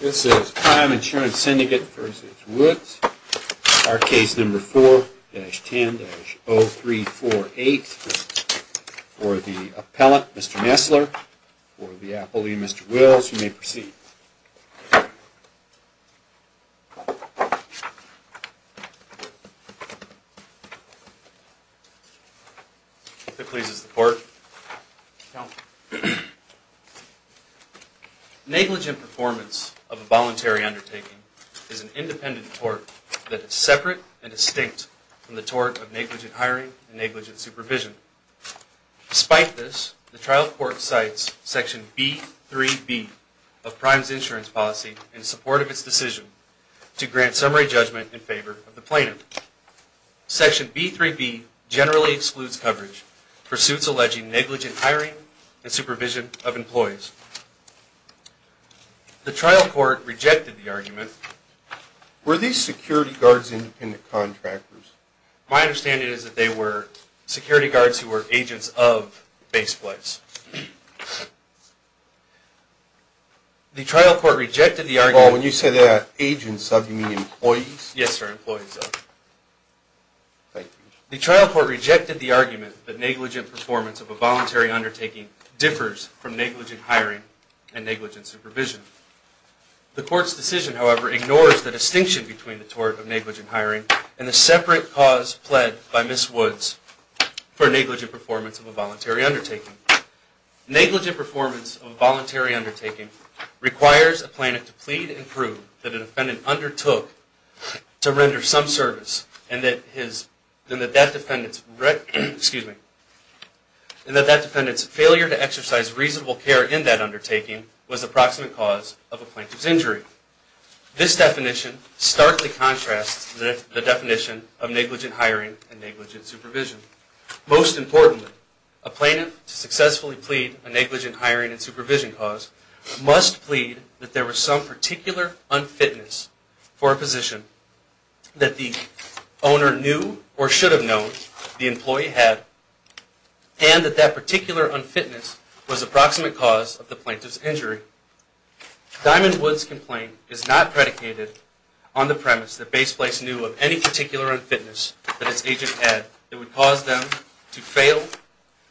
This is Prime Insurance Syndicate v. Woods, our case number 4-10-0348. For the appellant, Mr. Messler, for the appellee, Mr. Wills, you may proceed. If it pleases the court. Negligent performance of a voluntary undertaking is an independent tort that is separate and distinct from the tort of negligent hiring and negligent supervision. Despite this, the trial court cites Section B-3-B of Prime's insurance policy in support of its decision to grant summary judgment in favor of the plaintiff. Section B-3-B generally excludes coverage for suits alleging negligent hiring and supervision of employees. The trial court rejected the argument. Were these security guards independent contractors? My understanding is that they were security guards who were agents of base flights. The trial court rejected the argument that negligent performance of a voluntary undertaking differs from negligent hiring and negligent supervision. The court's decision, however, ignores the distinction between the tort of negligent hiring and the separate cause pled by Ms. Woods for negligent performance of a voluntary undertaking. Negligent performance of a voluntary undertaking requires a plaintiff to plead and prove that a defendant undertook to render some service and that that defendant's failure to exercise reasonable care in that undertaking was the proximate cause of a plaintiff's injury. This definition starkly contrasts the definition of negligent hiring and negligent supervision. Most importantly, a plaintiff to successfully plead a negligent hiring and supervision cause must plead that there was some particular unfitness for a position that the owner knew or should have known the employee had and that that particular unfitness was the proximate cause of the plaintiff's injury. Diamond Woods' complaint is not predicated on the premise that Base Flights knew of any particular unfitness that its agent had that would cause them to fail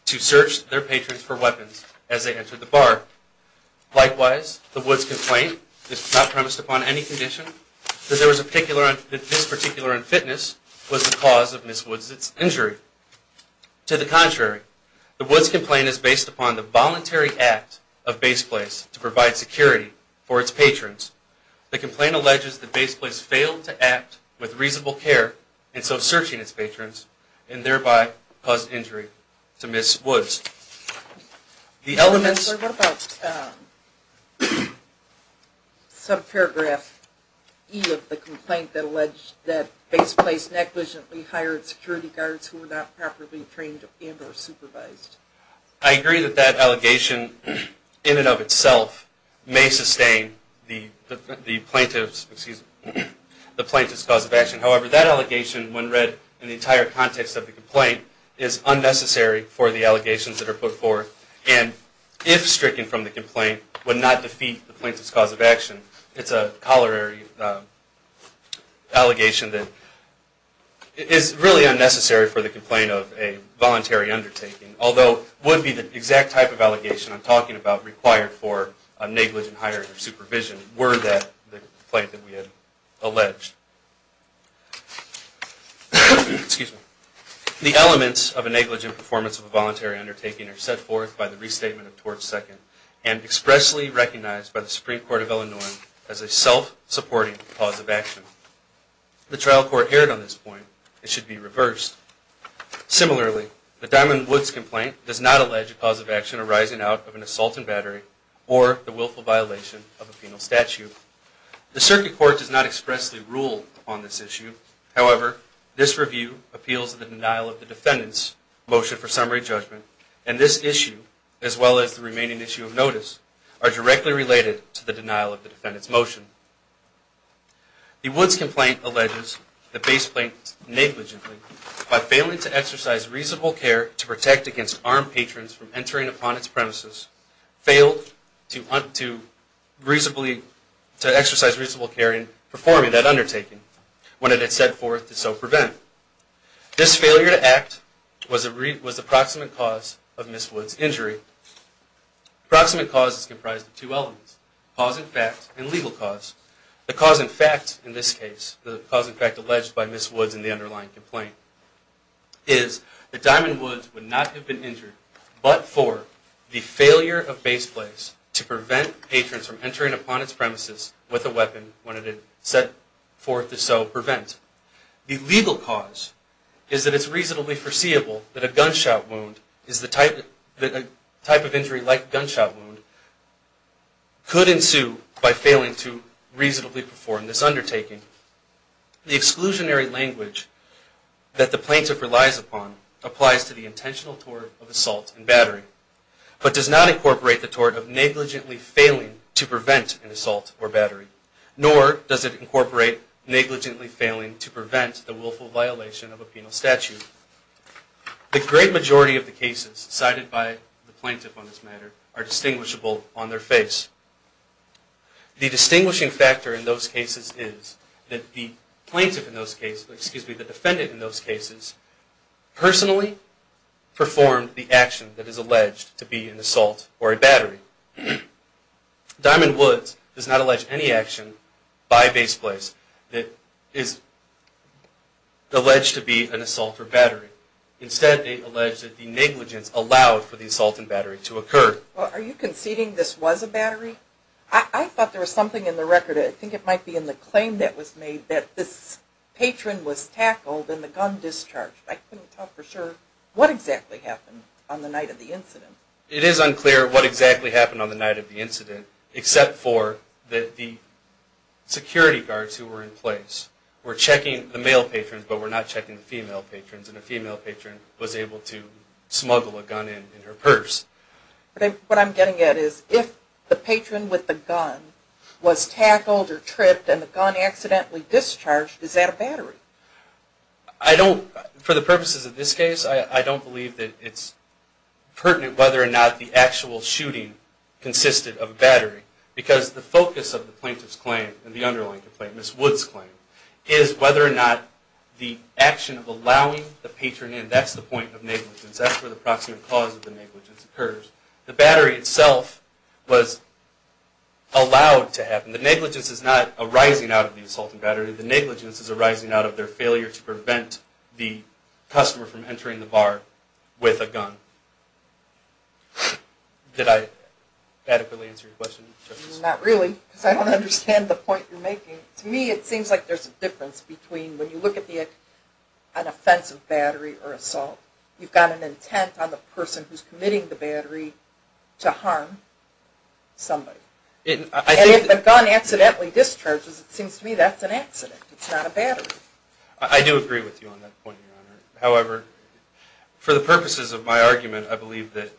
to search their patrons for weapons as they entered the bar. Likewise, the Woods' complaint is not premised upon any condition that this particular unfitness was the cause of Ms. Woods' injury. To the contrary, the Woods' complaint is based upon the voluntary act of Base Place to provide security for its patrons. The complaint alleges that Base Place failed to act with reasonable care in so searching its patrons and thereby caused injury to Ms. Woods. The elements... What about subparagraph E of the complaint that alleged that Base Place negligently hired security guards who were not properly trained and or supervised? I agree that that allegation in and of itself may sustain the plaintiff's cause of action. However, that allegation when read in the entire context of the complaint is unnecessary for the allegations that are put forth and if stricken from the complaint would not defeat the plaintiff's cause of action. It's a colliery allegation that is really unnecessary for the complaint of a voluntary undertaking. Although, it would be the exact type of allegation I'm talking about required for a negligent hiring or supervision were that the complaint that we had alleged. The elements of a negligent performance of a voluntary undertaking are set forth by the restatement of Tort Second and expressly recognized by the Supreme Court of Illinois as a self-supporting cause of action. The trial court erred on this point. It should be reversed. Similarly, the Diamond Woods complaint does not allege a cause of action arising out of an assault and battery or the willful violation of a penal statute. The circuit court does not expressly rule on this issue. However, this review appeals to the denial of the defendant's motion for summary judgment and this issue as well as the remaining issue of notice are directly related to the denial of the defendant's motion. The Woods complaint alleges the base plaintiff negligently by failing to exercise reasonable care to protect against armed patrons from entering upon its premises, failed to exercise reasonable care in performing that undertaking when it is set forth to so prevent. This failure to act was the proximate cause of Ms. Woods' injury. The proximate cause is comprised of two elements, cause in fact and legal cause. The cause in fact in this case, the cause in fact alleged by Ms. Woods in the underlying complaint, is that Diamond Woods would not have been injured but for the failure of base plaintiffs to prevent patrons from entering upon its premises with a weapon when it is set forth to so prevent. The legal cause is that it is reasonably foreseeable that a gunshot wound is the type of injury like a gunshot wound could ensue by failing to reasonably perform this undertaking. The exclusionary language that the plaintiff relies upon applies to the intentional tort of assault and battery but does not incorporate the tort of negligently failing to prevent an assault or battery nor does it incorporate negligently failing to prevent the willful violation of a penal statute. The great majority of the cases cited by the plaintiff on this matter are distinguishable on their face. The distinguishing factor in those cases is that the defendant in those cases personally performed the action that is alleged to be an assault or a battery. Diamond Woods does not allege any action by base place that is alleged to be an assault or battery. Instead, they allege that the negligence allowed for the assault and battery to occur. Well, are you conceding this was a battery? I thought there was something in the record, I think it might be in the claim that was made that this patron was tackled and the gun discharged. I couldn't tell for sure what exactly happened on the night of the incident. It is unclear what exactly happened on the night of the incident except for that the security guards who were in place were checking the male patrons but were not checking the female patrons and the female patron was able to smuggle a gun in her purse. What I'm getting at is if the patron with the gun was tackled or tripped and the gun accidentally discharged, is that a battery? I don't, for the purposes of this case, I don't believe that it's pertinent whether or not the actual shooting consisted of a battery because the focus of the plaintiff's claim and the underlying complaint, Ms. Woods' claim, is whether or not the action of allowing the patron in, that's the point of negligence, that's where the proximate cause of the negligence occurs. The battery itself was allowed to happen. The negligence is not arising out of the assault and battery, the negligence is arising out of their failure to prevent the customer from entering the bar with a gun. Did I adequately answer your question, Justice? Not really because I don't understand the point you're making. To me it seems like there's a difference between when you look at an offensive battery or assault, you've got an intent on the person who's committing the battery to harm somebody and if the gun accidentally discharges, it seems to me that's an accident, it's not a battery. I do agree with you on that point, however, for the purposes of my argument, I believe that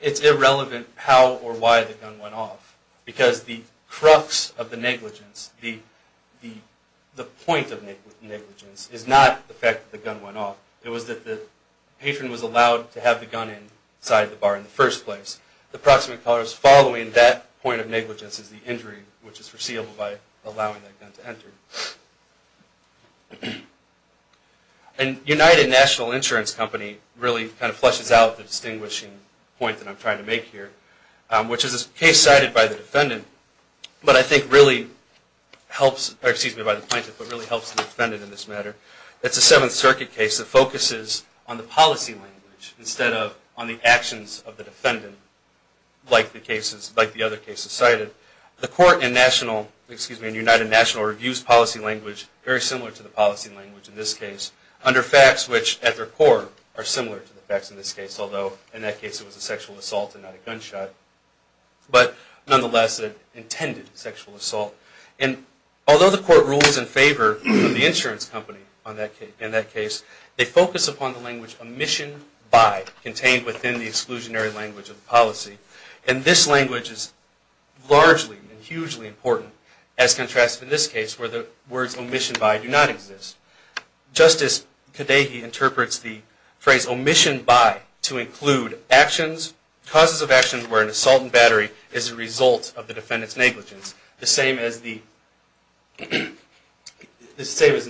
it's irrelevant how or why the gun went off because the crux of the negligence, the point of negligence, is not the fact that the gun went off, it was that the patron was allowed to have the gun inside the bar in the first place. The proximate cause following that point of negligence is the injury, which is foreseeable by allowing that gun to enter. And United National Insurance Company really kind of flushes out the distinguishing point that I'm trying to make here, which is a case cited by the defendant, but I think really helps the defendant in this matter. It's a Seventh Circuit case that focuses on the policy language instead of on the actions of the defendant, like the other cases cited. The court in United National reviews policy language very similar to the policy language in this case, under facts which at their core are similar to the facts in this case, although in that case it was a sexual assault and not a gunshot, but nonetheless an intended sexual assault. And although the court rules in favor of the insurance company in that case, they focus upon the language, omission by, contained within the exclusionary language of the policy. And this language is largely and hugely important, as contrasted in this case where the words omission by do not exist. Justice Kadehi interprets the phrase omission by to include actions, causes of actions where an assault and battery is a result of the defendant's negligence, the same as in this case,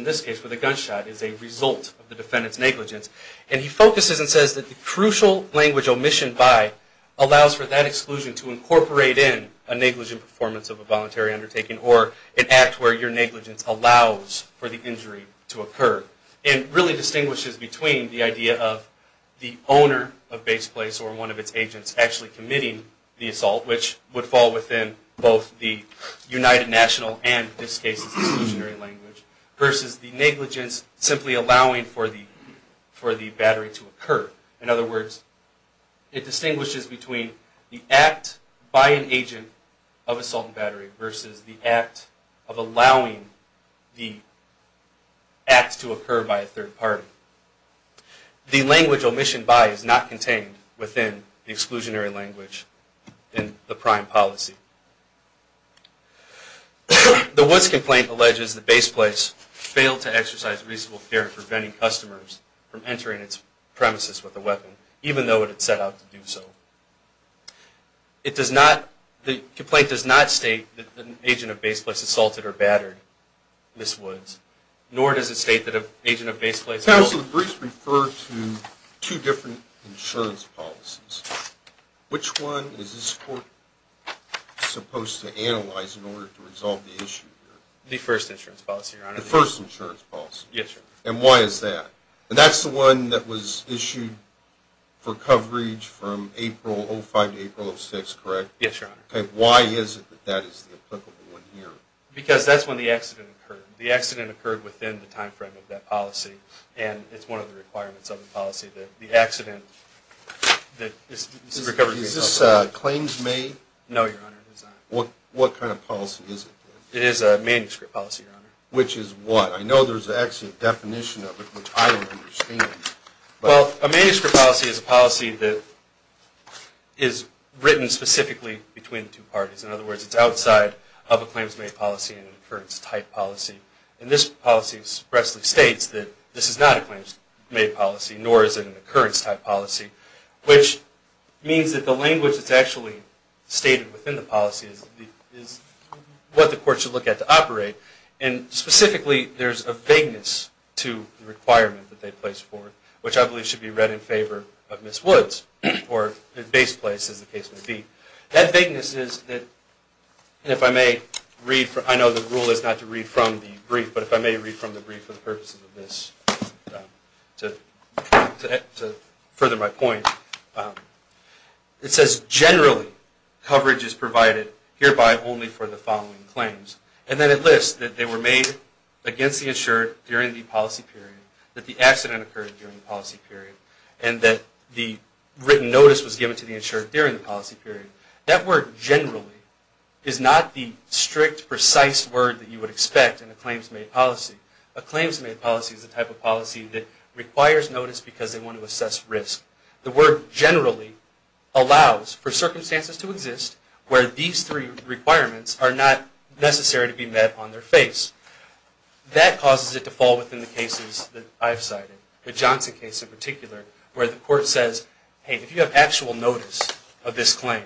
negligence. And he focuses and says that the crucial language omission by allows for that exclusion to incorporate in a negligent performance of a voluntary undertaking or an act where your negligence allows for the injury to occur, and really distinguishes between the idea of the owner of base place or one of its agents actually committing the assault, which would fall within both the United National and this case's exclusionary language, versus the negligence simply allowing for the battery to occur. In other words, it distinguishes between the act by an agent of assault and battery versus the act of allowing the act to occur by a third party. The language omission by is not contained within the exclusionary language in the prime policy. The Woods complaint alleges that Base Place failed to exercise reasonable care in preventing customers from entering its premises with a weapon, even though it had set out to do so. It does not, the complaint does not state that an agent of Base Place assaulted or battered Ms. Woods, nor does it state that an agent of Base Place assaulted or battered Ms. Woods. Counsel, the briefs refer to two different insurance policies. Which one is this court supposed to analyze in order to resolve the issue here? The first insurance policy, Your Honor. The first insurance policy. Yes, Your Honor. And why is that? And that's the one that was issued for coverage from April, 05 to April of 06, correct? Yes, Your Honor. Okay, why is it that that is the applicable one here? Because that's when the accident occurred. The accident occurred within the time frame of that policy, and it's one of the requirements of the policy that the accident, that this is a recovery case. Is this claims-made? No, Your Honor. It is not. What kind of policy is it, then? It is a manuscript policy, Your Honor. Which is what? I know there's actually a definition of it, which I don't understand, but. Well, a manuscript policy is a policy that is written specifically between two parties. In other words, it's outside of a claims-made policy and an incurrence-type policy, and this policy expressly states that this is not a claims-made policy, nor is it an occurrence-type policy, which means that the language that's actually stated within the policy is what the court should look at to operate. And specifically, there's a vagueness to the requirement that they place for it, which I believe should be read in favor of Ms. Woods, or at base place, as the case may be. That vagueness is that, and if I may read from, I know the rule is not to read from the brief, but if I may read from the brief for the purposes of this, to further my point. It says, generally, coverage is provided hereby only for the following claims. And then it lists that they were made against the insured during the policy period, that the accident occurred during the policy period, and that the written notice was given to the insured during the policy period. That word, generally, is not the strict, precise word that you would expect in a claims-made policy. A claims-made policy is a type of policy that requires notice because they want to assess risk. The word, generally, allows for circumstances to exist where these three requirements are not necessary to be met on their face. That causes it to fall within the cases that I've cited, the Johnson case in particular, where the court says, hey, if you have actual notice of this claim,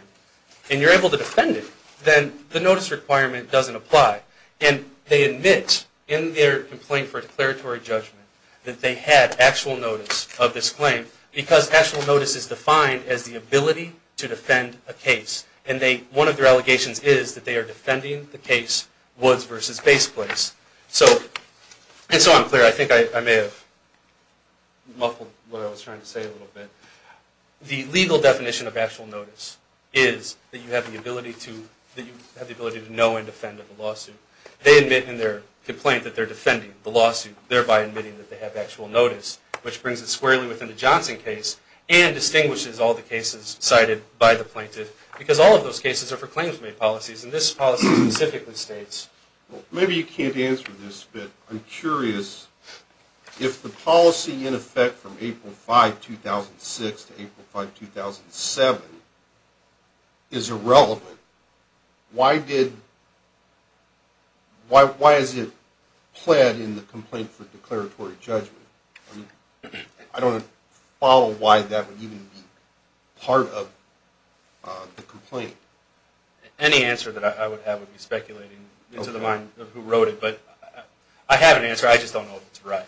and you're able to defend it, then the notice requirement doesn't apply. And they admit, in their complaint for declaratory judgment, that they had actual notice of this claim because actual notice is defined as the ability to defend a case. And one of their allegations is that they are defending the case Woods v. Base Place. And so I'm clear. I think I may have muffled what I was trying to say a little bit. The legal definition of actual notice is that you have the ability to know and defend of the lawsuit. They admit in their complaint that they're defending the lawsuit, thereby admitting that they have actual notice, which brings it squarely within the Johnson case and distinguishes all the cases cited by the plaintiff, because all of those cases are for claims-made policies. And this policy specifically states... Maybe you can't answer this, but I'm curious. If the policy, in effect, from April 5, 2006 to April 5, 2007 is irrelevant, why is it pled in the complaint for declaratory judgment? I don't follow why that would even be part of the complaint. Any answer that I would have would be speculating into the mind of who wrote it, but I have an answer. I just don't know if it's right.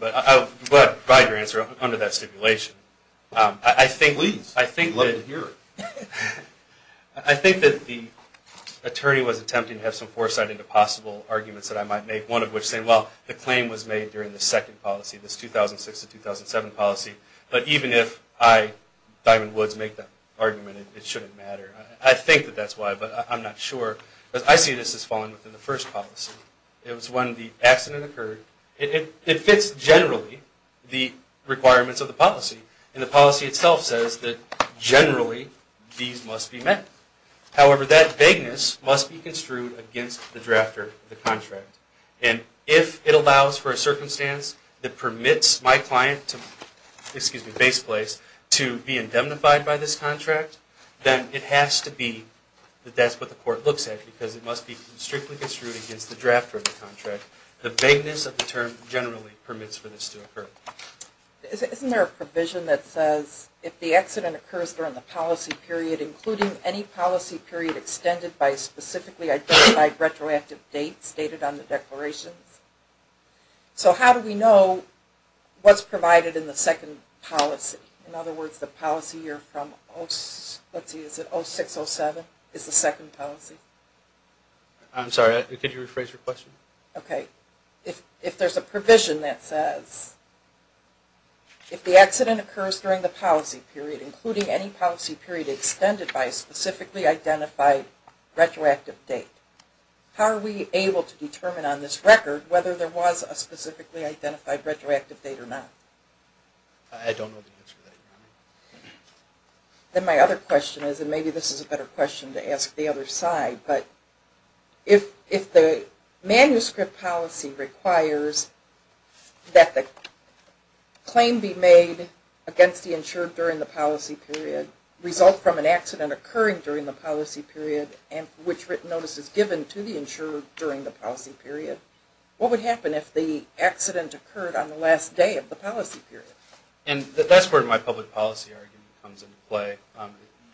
But I'll provide your answer under that stipulation. I think... Please. I'd love to hear it. I think that the attorney was attempting to have some foresight into possible arguments that I might make, one of which saying, well, the claim was made during the second policy, this 2006 to 2007 policy, but even if I, Diamond Woods, make that argument, it shouldn't matter. I think that that's why, but I'm not sure. I see this as falling within the first policy. It was when the accident occurred. It fits generally the requirements of the policy, and the policy itself says that generally these must be met. However, that vagueness must be construed against the drafter of the contract. And if it allows for a circumstance that permits my client to be indemnified by this contract, then it has to be that that's what the court looks at, because it must be strictly construed against the drafter of the contract. The vagueness of the term generally permits for this to occur. Isn't there a provision that says if the accident occurs during the policy period, including any policy period extended by specifically identified retroactive dates stated on the declarations? So how do we know what's provided in the second policy? In other words, the policy you're from, let's see, is it 06-07 is the second policy? I'm sorry, could you rephrase your question? Okay. If there's a provision that says if the accident occurs during the policy period, including any policy period extended by a specifically identified retroactive date, how are we able to determine on this record whether there was a specifically identified retroactive date or not? I don't know the answer to that, Your Honor. Then my other question is, and maybe this is a better question to ask the other side, but if the manuscript policy requires that the claim be made against the insured during the policy period result from an accident occurring during the policy period and which written notice is given to the insured during the policy period, what would happen if the And that's where my public policy argument comes into play,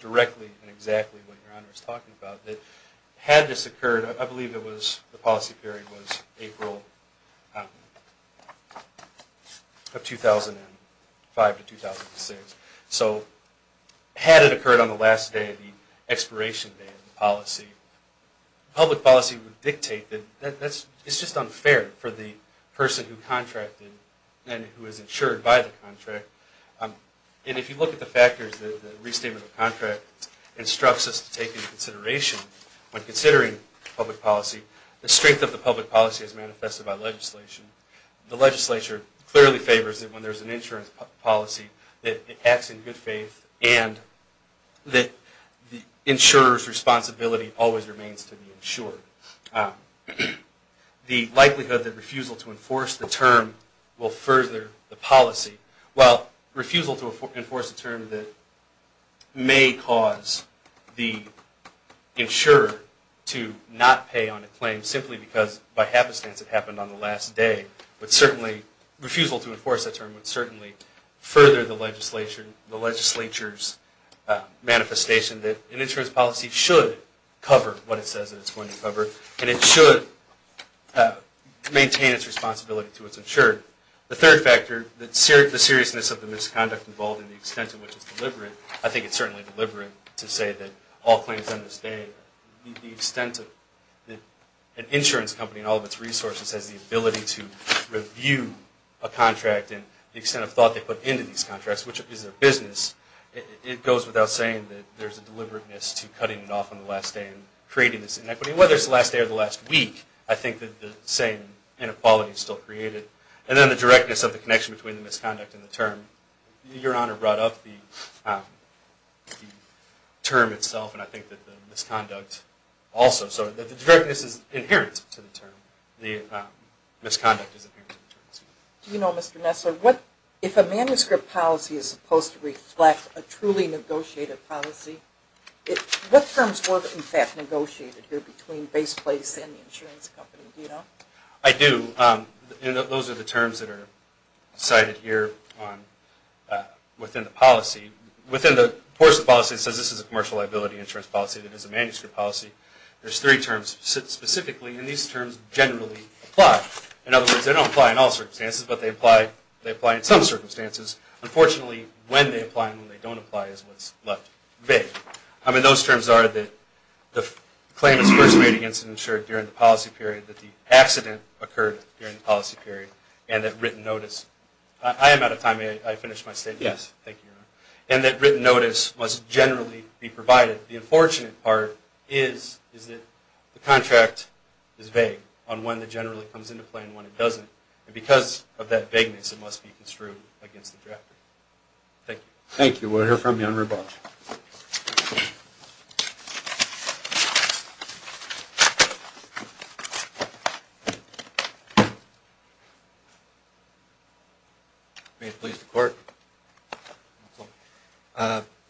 directly and exactly what Your Honor is talking about, that had this occurred, I believe the policy period was April of 2005-2006, so had it occurred on the last day of the expiration date of the policy, public policy would dictate that it's just unfair for the person who contracted it and who is insured by the contract. And if you look at the factors, the restatement of contract instructs us to take into consideration when considering public policy, the strength of the public policy is manifested by legislation. The legislature clearly favors it when there's an insurance policy that acts in good faith and that the insurer's responsibility always remains to be insured. The likelihood that refusal to enforce the term will further the policy. While refusal to enforce a term that may cause the insurer to not pay on a claim simply because by happenstance it happened on the last day, refusal to enforce that term would certainly further the legislature's manifestation that an insurance policy should cover what it says that it's going to cover, and it should maintain its responsibility to its insurer. The third factor, the seriousness of the misconduct involved and the extent to which it's deliberate, I think it's certainly deliberate to say that all claims on this day, the extent that an insurance company and all of its resources has the ability to review a contract and the extent of thought they put into these contracts, which is their business, it goes without saying that there's a deliberateness to cutting it off on the last day and creating this inequity. Whether it's the last day or the last week, I think that the same inequality is still created. And then the directness of the connection between the misconduct and the term. Your Honor brought up the term itself, and I think that the misconduct also. So the directness is inherent to the term. The misconduct is inherent to the term. Do you know, Mr. Nessler, if a manuscript policy is supposed to reflect a truly negotiated policy, what terms were in fact negotiated here between Base Place and the insurance company? Do you know? I do. Those are the terms that are cited here within the policy. Within the PORSA policy, it says this is a commercial liability insurance policy that is a manuscript policy. There's three terms specifically, and these terms generally apply. In other words, they don't apply in all circumstances, but they apply in some circumstances. Unfortunately, when they apply and when they don't apply is what's left vague. I mean, those terms are that the claim is first made against an insurer during the policy period, that the accident occurred during the policy period, and that written notice. I am out of time. May I finish my statement? Yes. Thank you, Your Honor. And that written notice must generally be provided. The unfortunate part is that the contract is vague on when it generally comes into play and when it doesn't, and because of that vagueness, it must be construed against the drafter. Thank you. Thank you. We'll hear from you on rebuttal. May it please the Court.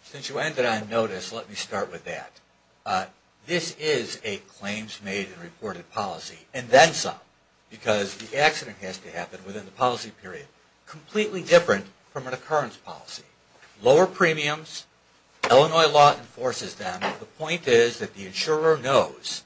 Since you ended on notice, let me start with that. This is a claims made and reported policy, and then some, because the accident has to happen within the policy period, completely different from an occurrence policy. Lower premiums, Illinois law enforces them. The point is that the insurer knows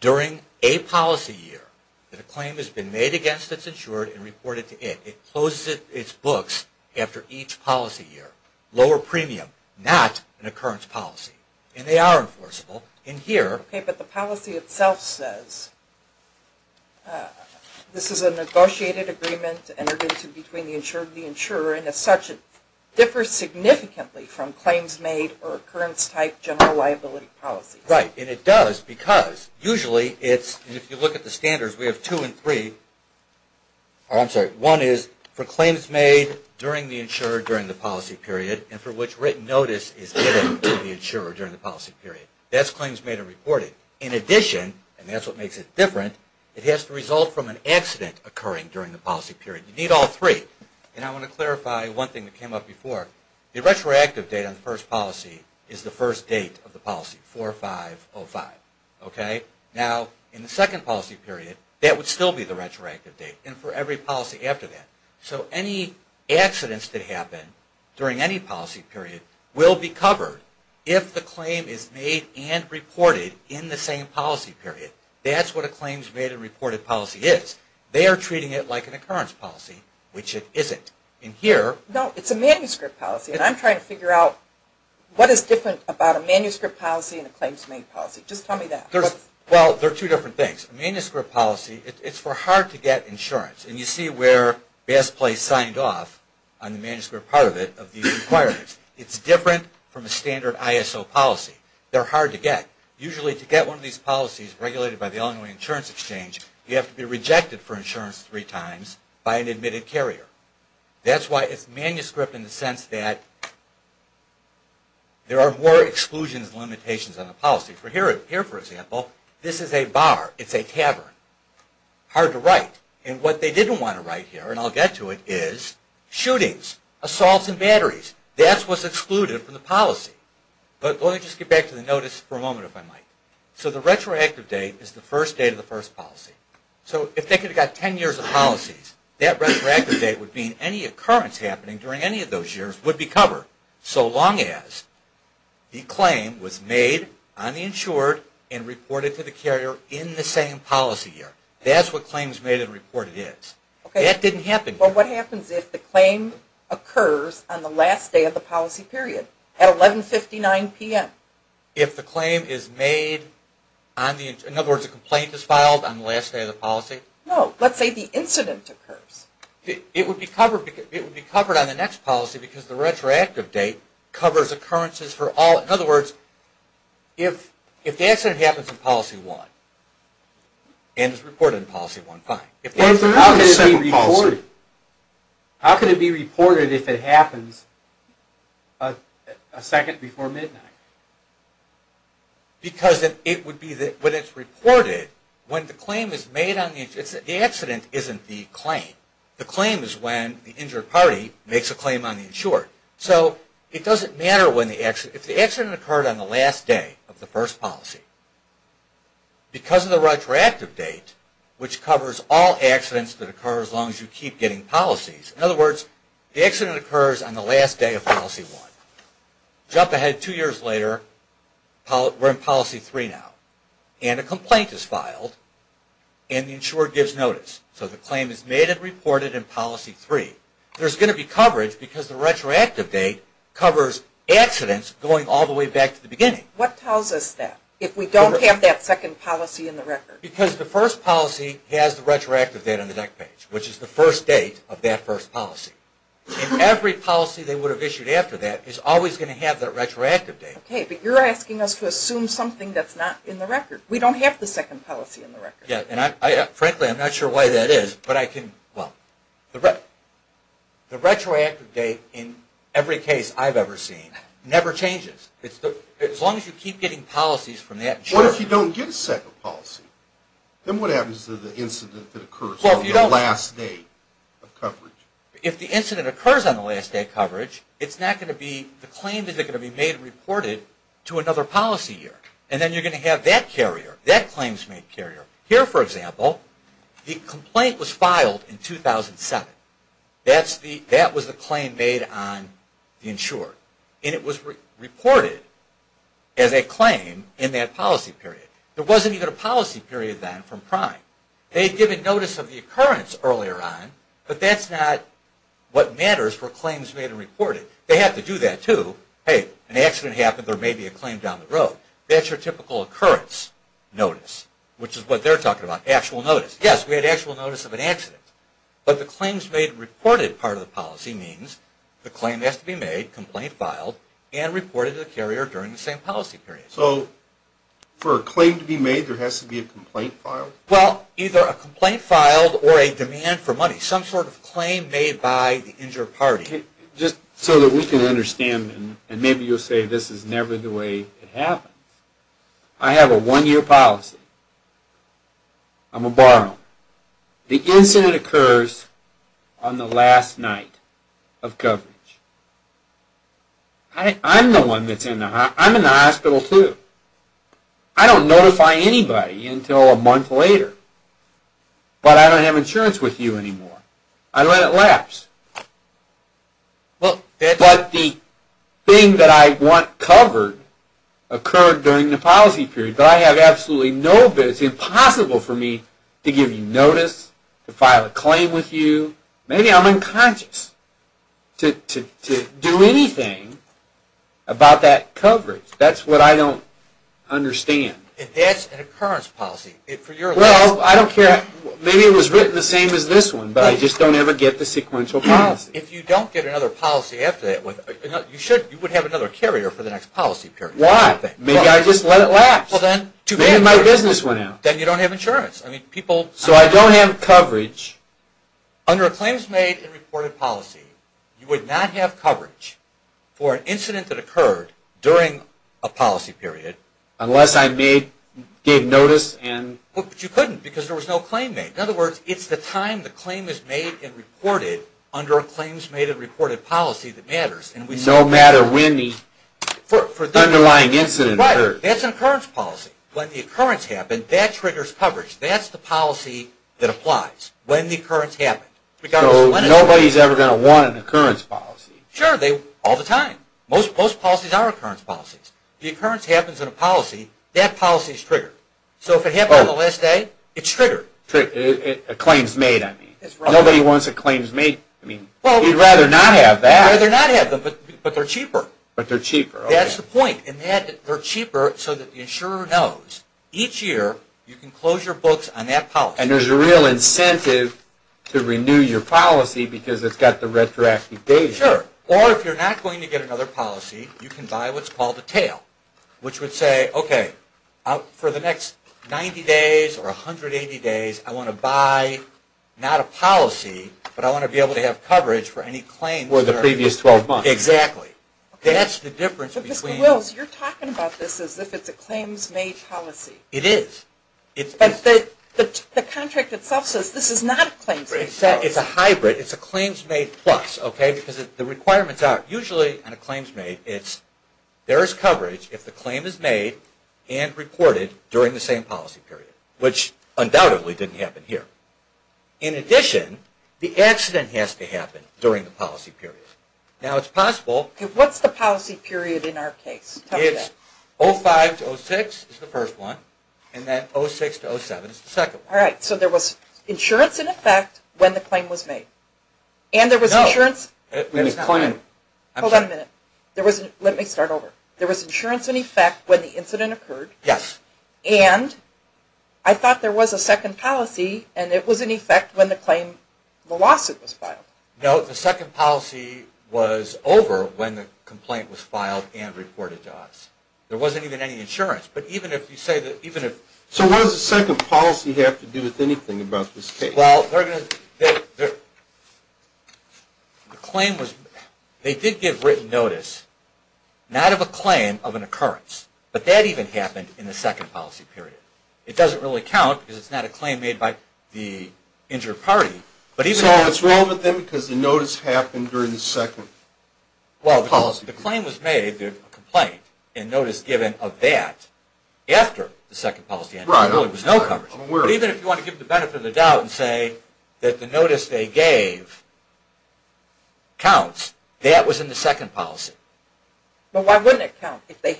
during a policy year that a claim has been made against its insured and reported to it. It closes its books after each policy year. Lower premium, not an occurrence policy. And they are enforceable. But the policy itself says this is a negotiated agreement entered into between the insurer and the insurer, and as such, it differs significantly from claims made or occurrence-type general liability policies. Right, and it does because usually it's, and if you look at the standards, we have two and three. I'm sorry, one is for claims made during the insurer, during the policy period, and for which written notice is given to the insurer during the policy period. That's claims made or reported. In addition, and that's what makes it different, it has to result from an accident occurring during the policy period. You need all three. And I want to clarify one thing that came up before. The retroactive date on the first policy is the first date of the policy, 4505. Okay? Now, in the second policy period, that would still be the retroactive date, and for every policy after that. So any accidents that happen during any policy period will be covered if the claim is made and reported in the same policy period. That's what a claims made and reported policy is. They are treating it like an occurrence policy, which it isn't. No, it's a manuscript policy, and I'm trying to figure out what is different about a manuscript policy and a claims made policy. Just tell me that. Well, they're two different things. A manuscript policy, it's for hard to get insurance. And you see where Bass Place signed off on the manuscript part of it, of these requirements. It's different from a standard ISO policy. They're hard to get. Usually to get one of these policies regulated by the Illinois Insurance Exchange, you have to be rejected for insurance three times by an admitted carrier. That's why it's manuscript in the sense that there are more exclusions and limitations on the policy. Here, for example, this is a bar. It's a cavern. Hard to write. And what they didn't want to write here, and I'll get to it, is shootings, assaults, and batteries. That's what's excluded from the policy. But let me just get back to the notice for a moment, if I might. So the retroactive date is the first date of the first policy. So if they could have got ten years of policies, that retroactive date would mean any occurrence happening during any of those years would be covered, so long as the claim was made on the insured and reported to the carrier in the same policy year. That's what claims made and reported is. That didn't happen. Well, what happens if the claim occurs on the last day of the policy period, at 1159 p.m.? If the claim is made on the, in other words, a complaint is filed on the last day of the policy? No. Let's say the incident occurs. It would be covered on the next policy because the retroactive date covers occurrences for all. In other words, if the accident happens in policy one and is reported in policy one, fine. How could it be reported? How could it be reported if it happens a second before midnight? Because it would be that when it's reported, when the claim is made on the, the accident isn't the claim. The claim is when the injured party makes a claim on the insured. So it doesn't matter when the accident, if the accident occurred on the last day of the first policy, because of the retroactive date, which covers all accidents that occur as long as you keep getting policies. In other words, the accident occurs on the last day of policy one. Jump ahead two years later, we're in policy three now, and a complaint is filed and the insurer gives notice. So the claim is made and reported in policy three. There's going to be coverage because the retroactive date covers accidents going all the way back to the beginning. What tells us that if we don't have that second policy in the record? Because the first policy has the retroactive date on the deck page, which is the first date of that first policy. And every policy they would have issued after that is always going to have that retroactive date. Okay, but you're asking us to assume something that's not in the record. We don't have the second policy in the record. Yeah, and frankly, I'm not sure why that is, but I can, well, the retroactive date in every case I've ever seen never changes. As long as you keep getting policies from that insurer. What if you don't get a second policy? Then what happens to the incident that occurs on the last day of coverage? If the incident occurs on the last day of coverage, it's not going to be the claim that's going to be made and reported to another policy year. And then you're going to have that carrier, that claims made carrier. Here, for example, the complaint was filed in 2007. That was the claim made on the insurer. And it was reported as a claim in that policy period. There wasn't even a policy period then from Prime. They had given notice of the occurrence earlier on, but that's not what matters for claims made and reported. They have to do that, too. Hey, an accident happened, there may be a claim down the road. That's your typical occurrence notice, which is what they're talking about, actual notice. Yes, we had actual notice of an accident. But the claims made and reported part of the policy means the claim has to be made, complaint filed, and reported to the carrier during the same policy period. So for a claim to be made, there has to be a complaint filed? Well, either a complaint filed or a demand for money, some sort of claim made by the injured party. Just so that we can understand, and maybe you'll say this is never the way it happens. I have a one-year policy. I'm a borrower. The incident occurs on the last night of coverage. I'm the one that's in the hospital. I'm in the hospital, too. I don't notify anybody until a month later. But I don't have insurance with you anymore. I let it lapse. But the thing that I want covered occurred during the policy period. But I have absolutely no evidence. It's impossible for me to give you notice, to file a claim with you. Maybe I'm unconscious to do anything about that coverage. That's what I don't understand. That's an occurrence policy. Well, I don't care. Maybe it was written the same as this one, but I just don't ever get the sequential policy. If you don't get another policy after that, you would have another carrier for the next policy period. Why? Maybe I just let it lapse. Maybe my business went out. Then you don't have insurance. So I don't have coverage. Under a claims-made and reported policy, you would not have coverage for an incident that occurred during a policy period. Unless I gave notice. But you couldn't because there was no claim made. In other words, it's the time the claim is made and reported under a claims-made and reported policy that matters. No matter when the underlying incident occurred. Right. That's an occurrence policy. When the occurrence happened, that triggers coverage. That's the policy that applies when the occurrence happened. So nobody is ever going to want an occurrence policy. Sure. All the time. Most policies are occurrence policies. The occurrence happens in a policy. That policy is triggered. So if it happened on the last day, it's triggered. A claims-made, I mean. Nobody wants a claims-made. You'd rather not have that. You'd rather not have them, but they're cheaper. But they're cheaper. That's the point. And they're cheaper so that the insurer knows. Each year, you can close your books on that policy. And there's a real incentive to renew your policy because it's got the retroactive data. Sure. Or if you're not going to get another policy, you can buy what's called a tail. Which would say, okay, for the next 90 days or 180 days, I want to buy not a policy, but I want to be able to have coverage for any claims. For the previous 12 months. Exactly. That's the difference between. Mr. Wills, you're talking about this as if it's a claims-made policy. It is. But the contract itself says this is not a claims-made policy. It's a hybrid. It's a claims-made plus. Because the requirements are usually on a claims-made, it's there's coverage if the claim is made and reported during the same policy period, which undoubtedly didn't happen here. In addition, the accident has to happen during the policy period. Now, it's possible. What's the policy period in our case? It's 05 to 06 is the first one. And then 06 to 07 is the second one. All right. So there was insurance in effect when the claim was made. And there was insurance. No. Hold on a minute. Let me start over. There was insurance in effect when the incident occurred. Yes. And I thought there was a second policy, and it was in effect when the lawsuit was filed. No. The second policy was over when the complaint was filed and reported to us. There wasn't even any insurance. So what does the second policy have to do with anything about this case? Well, they did give written notice, not of a claim, of an occurrence. But that even happened in the second policy period. It doesn't really count because it's not a claim made by the injured party. So it's wrong with them because the notice happened during the second policy period? Well, the claim was made, the complaint, and notice given of that after the second policy ended. There really was no coverage. But even if you want to give the benefit of the doubt and say that the notice they gave counts, that was in the second policy. But why wouldn't it count if they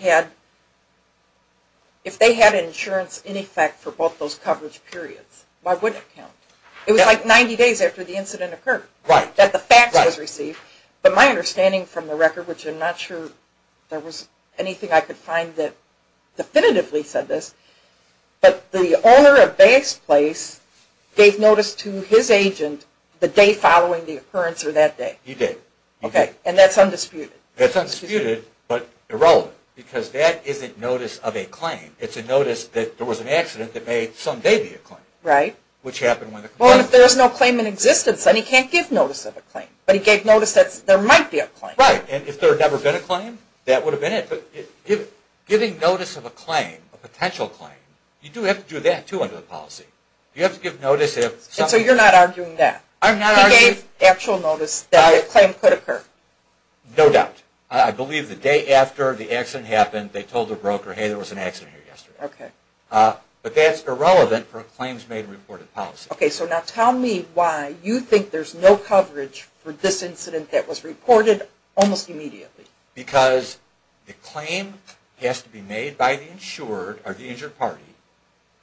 had insurance in effect for both those coverage periods? Why wouldn't it count? It was like 90 days after the incident occurred that the fax was received. But my understanding from the record, which I'm not sure there was anything I could find that definitively said this, but the owner of Bay's Place gave notice to his agent the day following the occurrence or that day. He did. And that's undisputed. That's undisputed, but irrelevant. Because that isn't notice of a claim. It's a notice that there was an accident that may someday be a claim. Right. Which happened when the complaint occurred. Well, if there's no claim in existence, then he can't give notice of a claim. But he gave notice that there might be a claim. Right. And if there had never been a claim, that would have been it. But giving notice of a claim, a potential claim, you do have to do that, too, under the policy. You have to give notice if... And so you're not arguing that? I'm not arguing... No doubt. I believe the day after the accident happened, they told the broker, hey, there was an accident here yesterday. Okay. But that's irrelevant for a claims made and reported policy. Okay. So now tell me why you think there's no coverage for this incident that was reported almost immediately. Because the claim has to be made by the insured or the injured party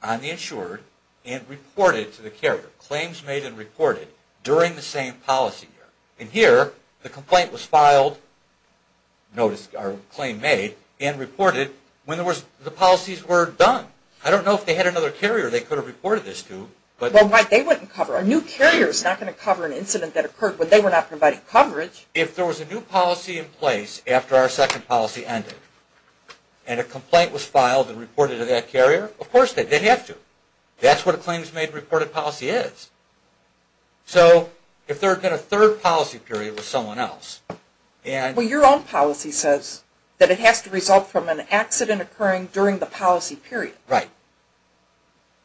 on the insured and reported to the carrier, claims made and reported, during the same policy year. And here, the complaint was filed, or claim made, and reported when the policies were done. I don't know if they had another carrier they could have reported this to. Well, they wouldn't cover it. A new carrier is not going to cover an incident that occurred when they were not providing coverage. If there was a new policy in place after our second policy ended, and a complaint was filed and reported to that carrier, of course they did have to. That's what a claims made and reported policy is. So if there had been a third policy period with someone else. Well, your own policy says that it has to result from an accident occurring during the policy period. Right.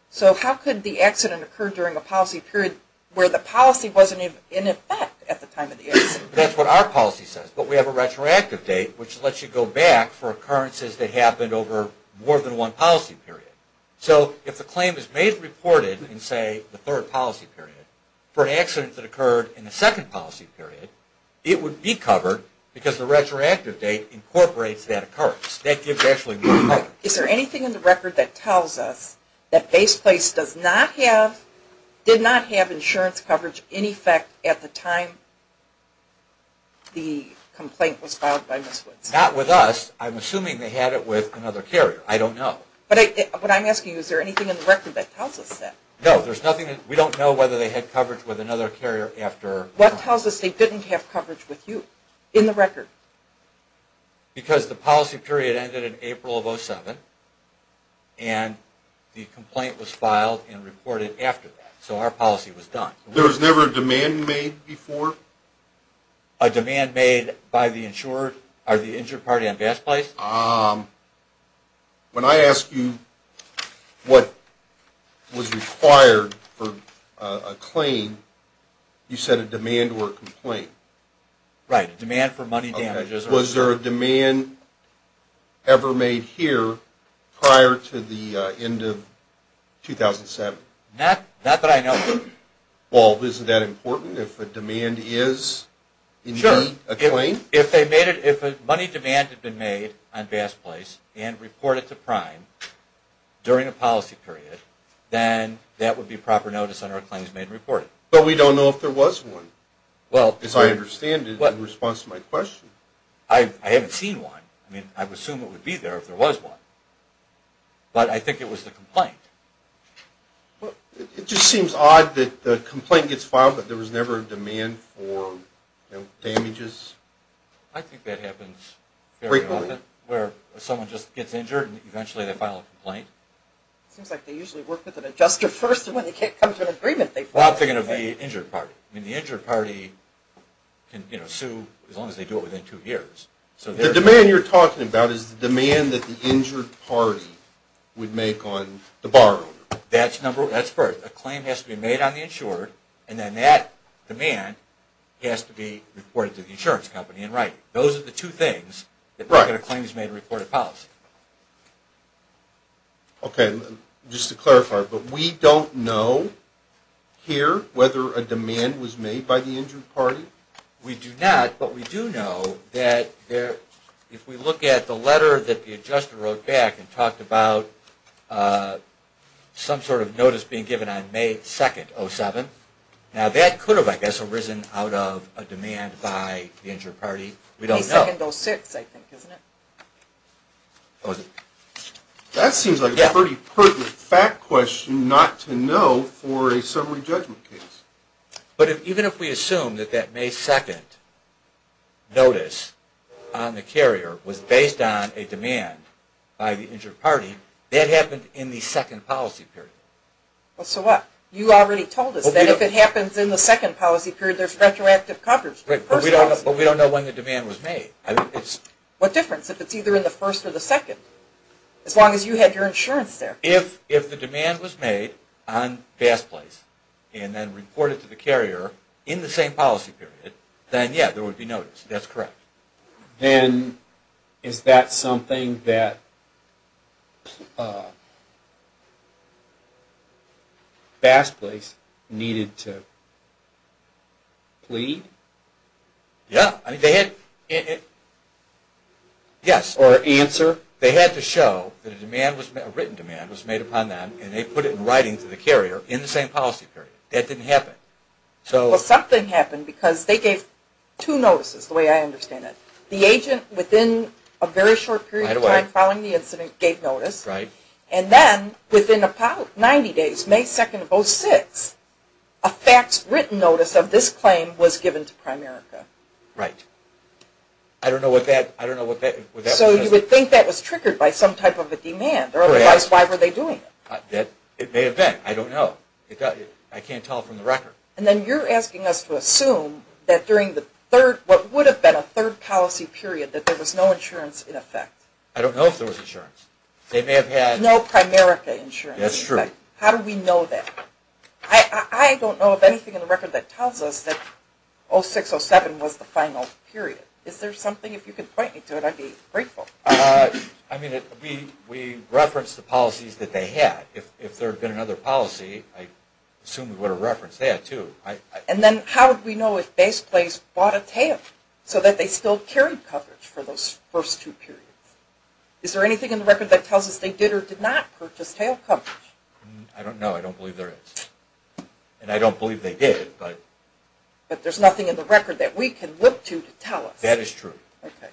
So how could the accident occur during a policy period where the policy wasn't in effect at the time of the accident? That's what our policy says. But we have a retroactive date, which lets you go back for occurrences that happened over more than one policy period. So if the claim is made and reported in, say, the third policy period, for an accident that occurred in the second policy period, it would be covered because the retroactive date incorporates that occurrence. That gives actually more coverage. Is there anything in the record that tells us that Base Place did not have insurance coverage in effect at the time the complaint was filed by Ms. Woods? Not with us. I'm assuming they had it with another carrier. I don't know. What I'm asking is, is there anything in the record that tells us that? No, there's nothing. We don't know whether they had coverage with another carrier after. What tells us they didn't have coverage with you in the record? Because the policy period ended in April of 2007, and the complaint was filed and reported after that. So our policy was done. There was never a demand made before? A demand made by the insured party on Base Place? When I asked you what was required for a claim, you said a demand or a complaint. Right. Demand for money damages. Was there a demand ever made here prior to the end of 2007? Not that I know of. Well, isn't that important, if a demand is indeed a claim? If a money demand had been made on Base Place and reported to Prime during a policy period, then that would be proper notice on our claims made and reported. But we don't know if there was one, as I understand it, in response to my question. I haven't seen one. I mean, I would assume it would be there if there was one. But I think it was the complaint. It just seems odd that the complaint gets filed, but there was never a demand for damages. I think that happens very often, where someone just gets injured and eventually they file a complaint. It seems like they usually work with an adjuster first, and when they can't come to an agreement, they file a complaint. Well, I'm thinking of the injured party. I mean, the injured party can sue as long as they do it within two years. The demand you're talking about is the demand that the injured party would make on the borrower. That's correct. A claim has to be made on the insurer, and then that demand has to be reported to the insurance company in writing. Those are the two things that make it a claims made and reported policy. Okay. Just to clarify, but we don't know here whether a demand was made by the injured party? We do not, but we do know that if we look at the letter that the adjuster wrote back and talked about some sort of notice being given on May 2nd, 2007, now that could have, I guess, arisen out of a demand by the injured party. We don't know. May 2nd, 2006, I think, isn't it? That seems like a pretty pertinent fact question not to know for a summary judgment case. But even if we assume that that May 2nd notice on the carrier was based on a demand by the injured party, that happened in the second policy period. So what? You already told us that if it happens in the second policy period, there's retroactive coverage. But we don't know when the demand was made. What difference if it's either in the first or the second, as long as you had your insurance there? If the demand was made on Bass Place and then reported to the carrier in the same policy period, then, yeah, there would be notice. That's correct. Then is that something that Bass Place needed to plead? Yeah. Yes. Or answer? They had to show that a written demand was made upon them, and they put it in writing to the carrier in the same policy period. That didn't happen. Well, something happened because they gave two notices, the way I understand it. The agent, within a very short period of time following the incident, gave notice. Right. And then, within about 90 days, May 2nd, 2006, a faxed, written notice of this claim was given to Prime America. Right. I don't know what that was. So you would think that was triggered by some type of a demand. Right. Otherwise, why were they doing it? It may have been. I don't know. I can't tell from the record. And then you're asking us to assume that during what would have been a third policy period, that there was no insurance in effect. I don't know if there was insurance. They may have had… No Prime America insurance. That's true. How do we know that? I don't know of anything in the record that tells us that 06-07 was the final period. Is there something? If you could point me to it, I'd be grateful. I mean, we referenced the policies that they had. If there had been another policy, I assume we would have referenced that, too. And then how would we know if Base Place bought a tail so that they still carried coverage for those first two periods? Is there anything in the record that tells us they did or did not purchase tail coverage? I don't know. I don't believe there is. And I don't believe they did, but… But there's nothing in the record that we can look to to tell us. That is true. Okay.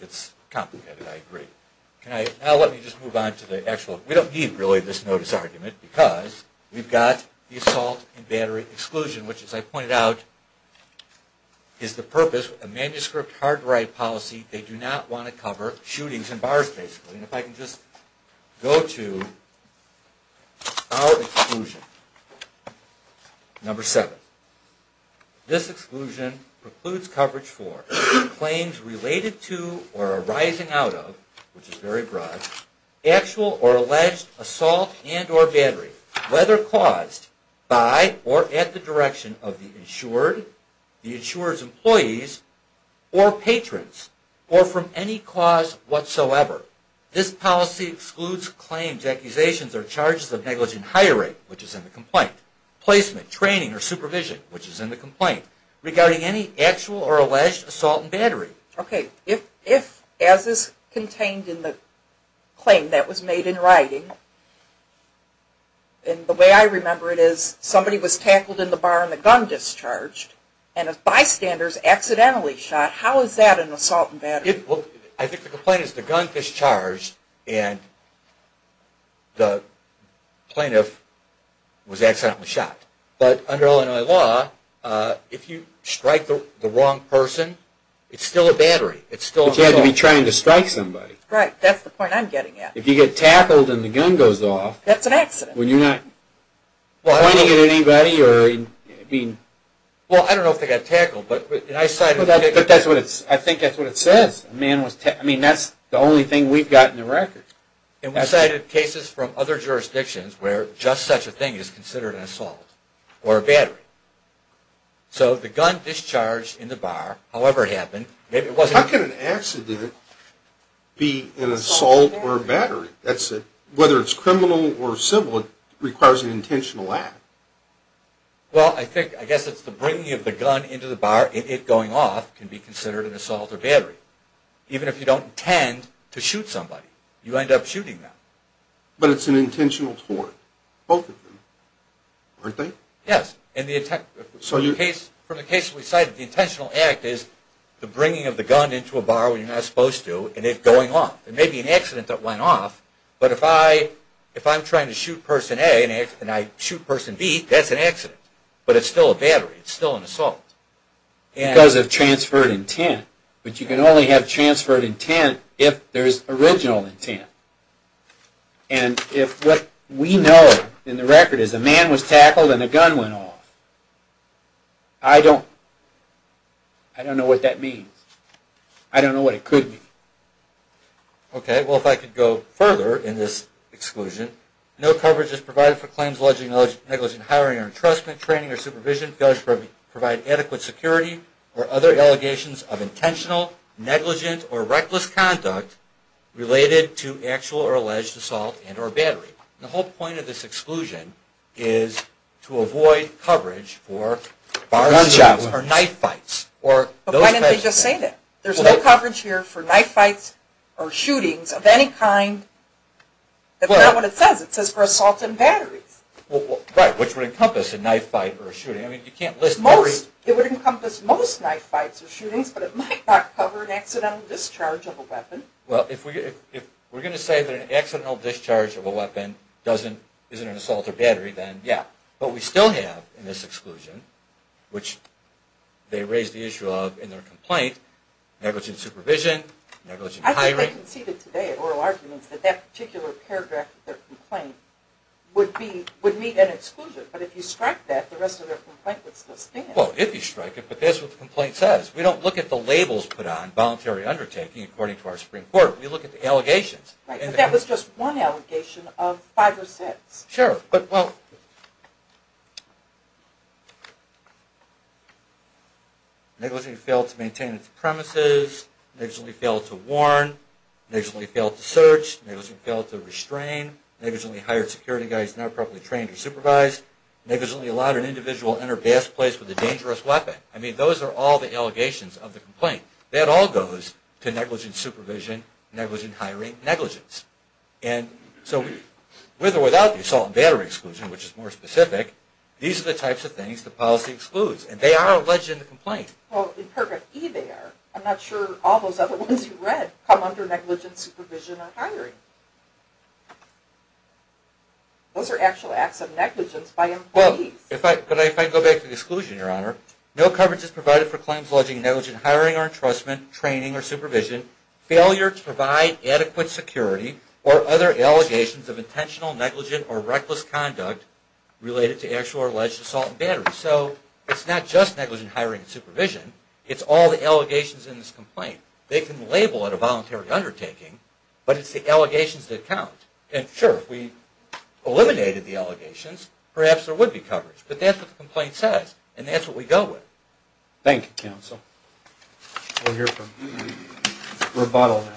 It's complicated. I agree. Now let me just move on to the actual… We don't need, really, this notice argument because we've got the assault and battery exclusion, which, as I pointed out, is the purpose of a manuscript hard-to-write policy. They do not want to cover shootings and bars, basically. If I can just go to our exclusion. Number seven. This exclusion precludes coverage for claims related to or arising out of, which is very broad, actual or alleged assault and or battery, whether caused by or at the direction of the insured, the insurer's employees, or patrons, or from any cause whatsoever. This policy excludes claims, accusations, or charges of negligent hiring, which is in the complaint, placement, training, or supervision, which is in the complaint, regarding any actual or alleged assault and battery. Okay. If, as is contained in the claim that was made in writing, and the way I remember it is somebody was tackled in the bar and the gun discharged, and a bystander was accidentally shot, how is that an assault and battery? Well, I think the complaint is the gun discharged and the plaintiff was accidentally shot. But under Illinois law, if you strike the wrong person, it's still a battery. It's still an assault. But you had to be trying to strike somebody. Right. That's the point I'm getting at. If you get tackled and the gun goes off. That's an accident. Were you not pointing at anybody? Well, I don't know if they got tackled. I think that's what it says. I mean, that's the only thing we've got on the record. And we cited cases from other jurisdictions where just such a thing is considered an assault or a battery. So the gun discharged in the bar, however it happened. How can an accident be an assault or a battery? Whether it's criminal or civil, it requires an intentional act. Well, I guess it's the bringing of the gun into the bar, and it going off can be considered an assault or battery. Even if you don't intend to shoot somebody, you end up shooting them. But it's an intentional tort, both of them, aren't they? Yes. From the case we cited, the intentional act is the bringing of the gun into a bar where you're not supposed to and it going off. It may be an accident that went off, but if I'm trying to shoot person A and I shoot person B, that's an accident. But it's still a battery. It's still an assault. Because of transferred intent. But you can only have transferred intent if there's original intent. And if what we know in the record is a man was tackled and a gun went off, I don't know what that means. I don't know what it could mean. Okay. Well, if I could go further in this exclusion. No coverage is provided for claims alleging negligent hiring or entrustment, training or supervision, failure to provide adequate security, or other allegations of intentional, negligent, or reckless conduct related to actual or alleged assault and or battery. The whole point of this exclusion is to avoid coverage for bar incidents or knife fights. But why didn't they just say that? There's no coverage here for knife fights or shootings of any kind. That's not what it says. It says for assaults and batteries. Right, which would encompass a knife fight or a shooting. It would encompass most knife fights or shootings, but it might not cover an accidental discharge of a weapon. Well, if we're going to say that an accidental discharge of a weapon isn't an assault or battery, then yeah. But we still have in this exclusion, which they raised the issue of in their complaint, negligent supervision, negligent hiring. I think they conceded today at oral arguments that that particular paragraph of their complaint would meet an exclusion. But if you strike that, the rest of their complaint would still stand. Well, if you strike it, but that's what the complaint says. We don't look at the labels put on voluntary undertaking according to our Supreme Court. We look at the allegations. Right, but that was just one allegation of five or six. Sure, but well, negligent failed to maintain its premises, negligently failed to warn, negligently failed to search, negligently failed to restrain, negligently hired security guys not properly trained or supervised, negligently allowed an individual to enter a gas place with a dangerous weapon. I mean, those are all the allegations of the complaint. That all goes to negligent supervision, negligent hiring, negligence. So with or without the assault and battery exclusion, which is more specific, these are the types of things the policy excludes. And they are alleged in the complaint. Well, in paragraph E they are. I'm not sure all those other ones you read come under negligent supervision or hiring. Those are actual acts of negligence by employees. Well, but if I go back to the exclusion, Your Honor, no coverage is provided for claims alleging negligent hiring or entrustment, training or supervision, failure to provide adequate security or other allegations of intentional, negligent or reckless conduct related to actual or alleged assault and battery. So it's not just negligent hiring and supervision. It's all the allegations in this complaint. They can label it a voluntary undertaking, but it's the allegations that count. And sure, if we eliminated the allegations, perhaps there would be coverage. But that's what the complaint says, and that's what we go with. Thank you, counsel. We'll hear from Robottle now.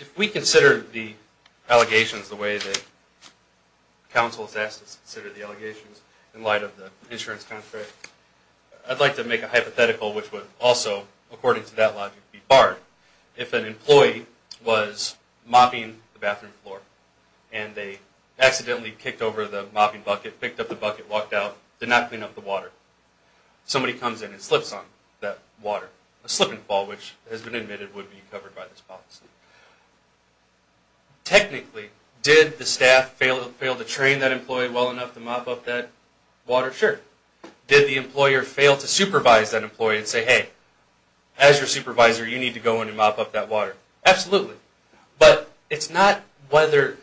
If we consider the allegations the way that counsel has asked us to consider the allegations in light of the insurance contract, I'd like to make a hypothetical which would also, according to that logic, be barred. If an employee was mopping the bathroom floor and they accidentally kicked over the mopping bucket, picked up the bucket, walked out, did not clean up the water, somebody comes in and slips on that water, a slip and fall which has been admitted would be covered by this policy. Technically, did the staff fail to train that employee well enough to mop up that water? Sure. Did the employer fail to supervise that employee and say, hey, as your supervisor, you need to go in and mop up that water? Absolutely. But it's not whether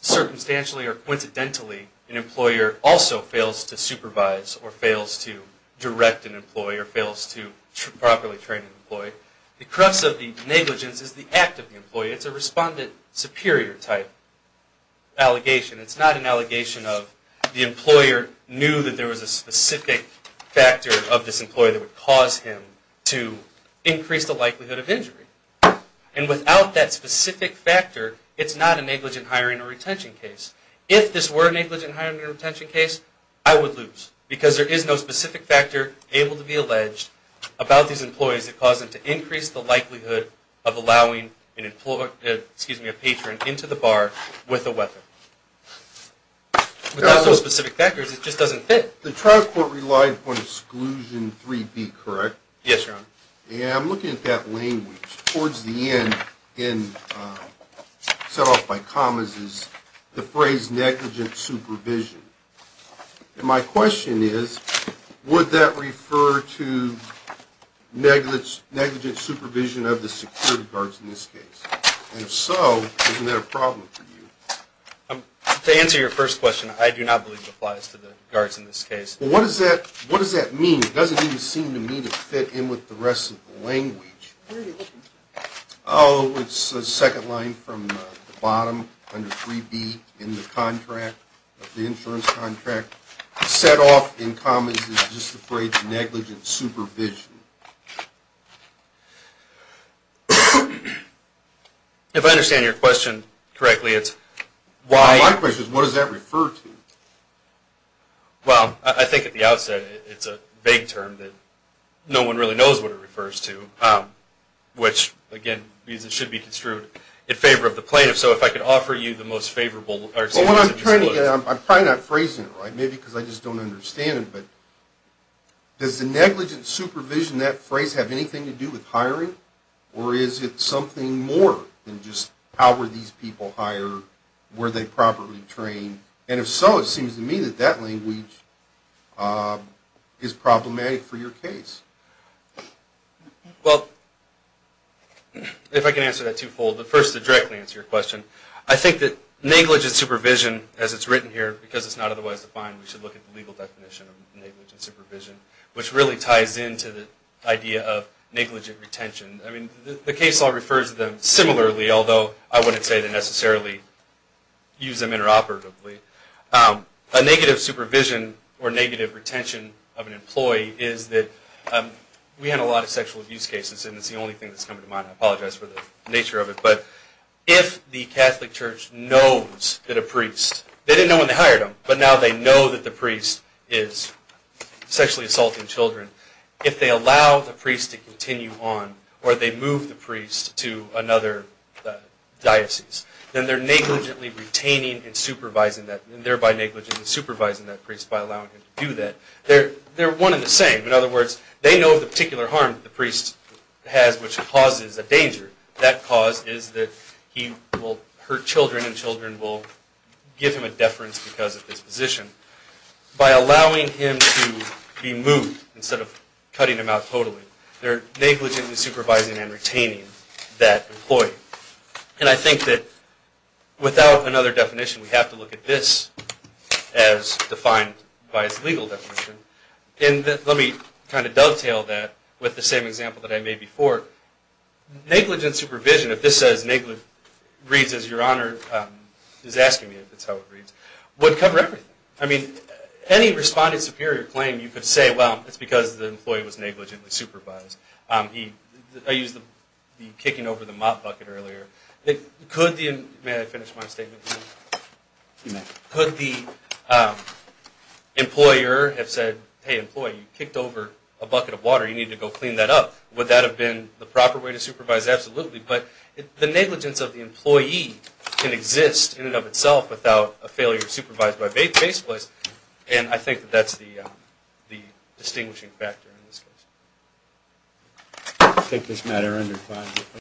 circumstantially or coincidentally an employer also fails to supervise or fails to direct an employee or fails to properly train an employee. The crux of the negligence is the act of the employee. It's a respondent superior type allegation. It's not an allegation of the employer knew that there was a specific factor of this employee that would cause him to increase the likelihood of injury. And without that specific factor, it's not a negligent hiring or retention case. If this were a negligent hiring or retention case, I would lose the likelihood of allowing a patron into the bar with a weapon. Without those specific factors, it just doesn't fit. The trial court relied upon exclusion 3B, correct? Yes, Your Honor. And I'm looking at that language. Towards the end, set off by commas, is the phrase negligent supervision. And my question is, would that refer to negligent supervision of the security guards in this case? And if so, isn't that a problem for you? To answer your first question, I do not believe it applies to the guards in this case. Well, what does that mean? It doesn't even seem to me to fit in with the rest of the language. Oh, it's the second line from the bottom under 3B in the contract, the insurance contract. Set off in commas is just the phrase negligent supervision. If I understand your question correctly, it's why... My question is, what does that refer to? Well, I think at the outset it's a vague term that no one really knows what it refers to. Which, again, means it should be construed in favor of the plaintiff. So if I could offer you the most favorable... Well, what I'm trying to get at, I'm probably not phrasing it right. Maybe because I just don't understand it. But does the negligent supervision, that phrase, have anything to do with hiring? Or is it something more than just how were these people hired, were they properly trained? And if so, it seems to me that that language is problematic for your case. Well, if I can answer that twofold, but first to directly answer your question, I think that negligent supervision, as it's written here, because it's not otherwise defined, we should look at the legal definition of negligent supervision, which really ties into the idea of negligent retention. I mean, the case law refers to them similarly, although I wouldn't say to necessarily use them interoperatively. A negative supervision or negative retention of an employee is that we had a lot of sexual abuse cases, and it's the only thing that's come to mind. I apologize for the nature of it. But if the Catholic Church knows that a priest, they didn't know when they hired them, but now they know that the priest is sexually assaulting children, if they allow the priest to continue on, or they move the priest to another diocese, then they're negligently retaining and supervising that, and thereby negligently supervising that priest by allowing him to do that. They're one and the same. In other words, they know of the particular harm that the priest has which causes a danger. That cause is that he will hurt children, and children will give him a deference because of his position. By allowing him to be moved instead of cutting him out totally, they're negligently supervising and retaining that employee. And I think that without another definition, we have to look at this as defined by its legal definition. And let me kind of dovetail that with the same example that I made before. Negligent supervision, if this reads as Your Honor is asking me, if that's how it reads, would cover everything. I mean, any responded superior claim, you could say, well, it's because the employee was negligently supervised. I used the kicking over the mop bucket earlier. May I finish my statement? You may. Could the employer have said, hey, employee, you kicked over a bucket of water. You need to go clean that up. Would that have been the proper way to supervise? Absolutely. But the negligence of the employee can exist in and of itself without a failure supervised by a faith-based place. And I think that that's the distinguishing factor in this case. I take this matter under five.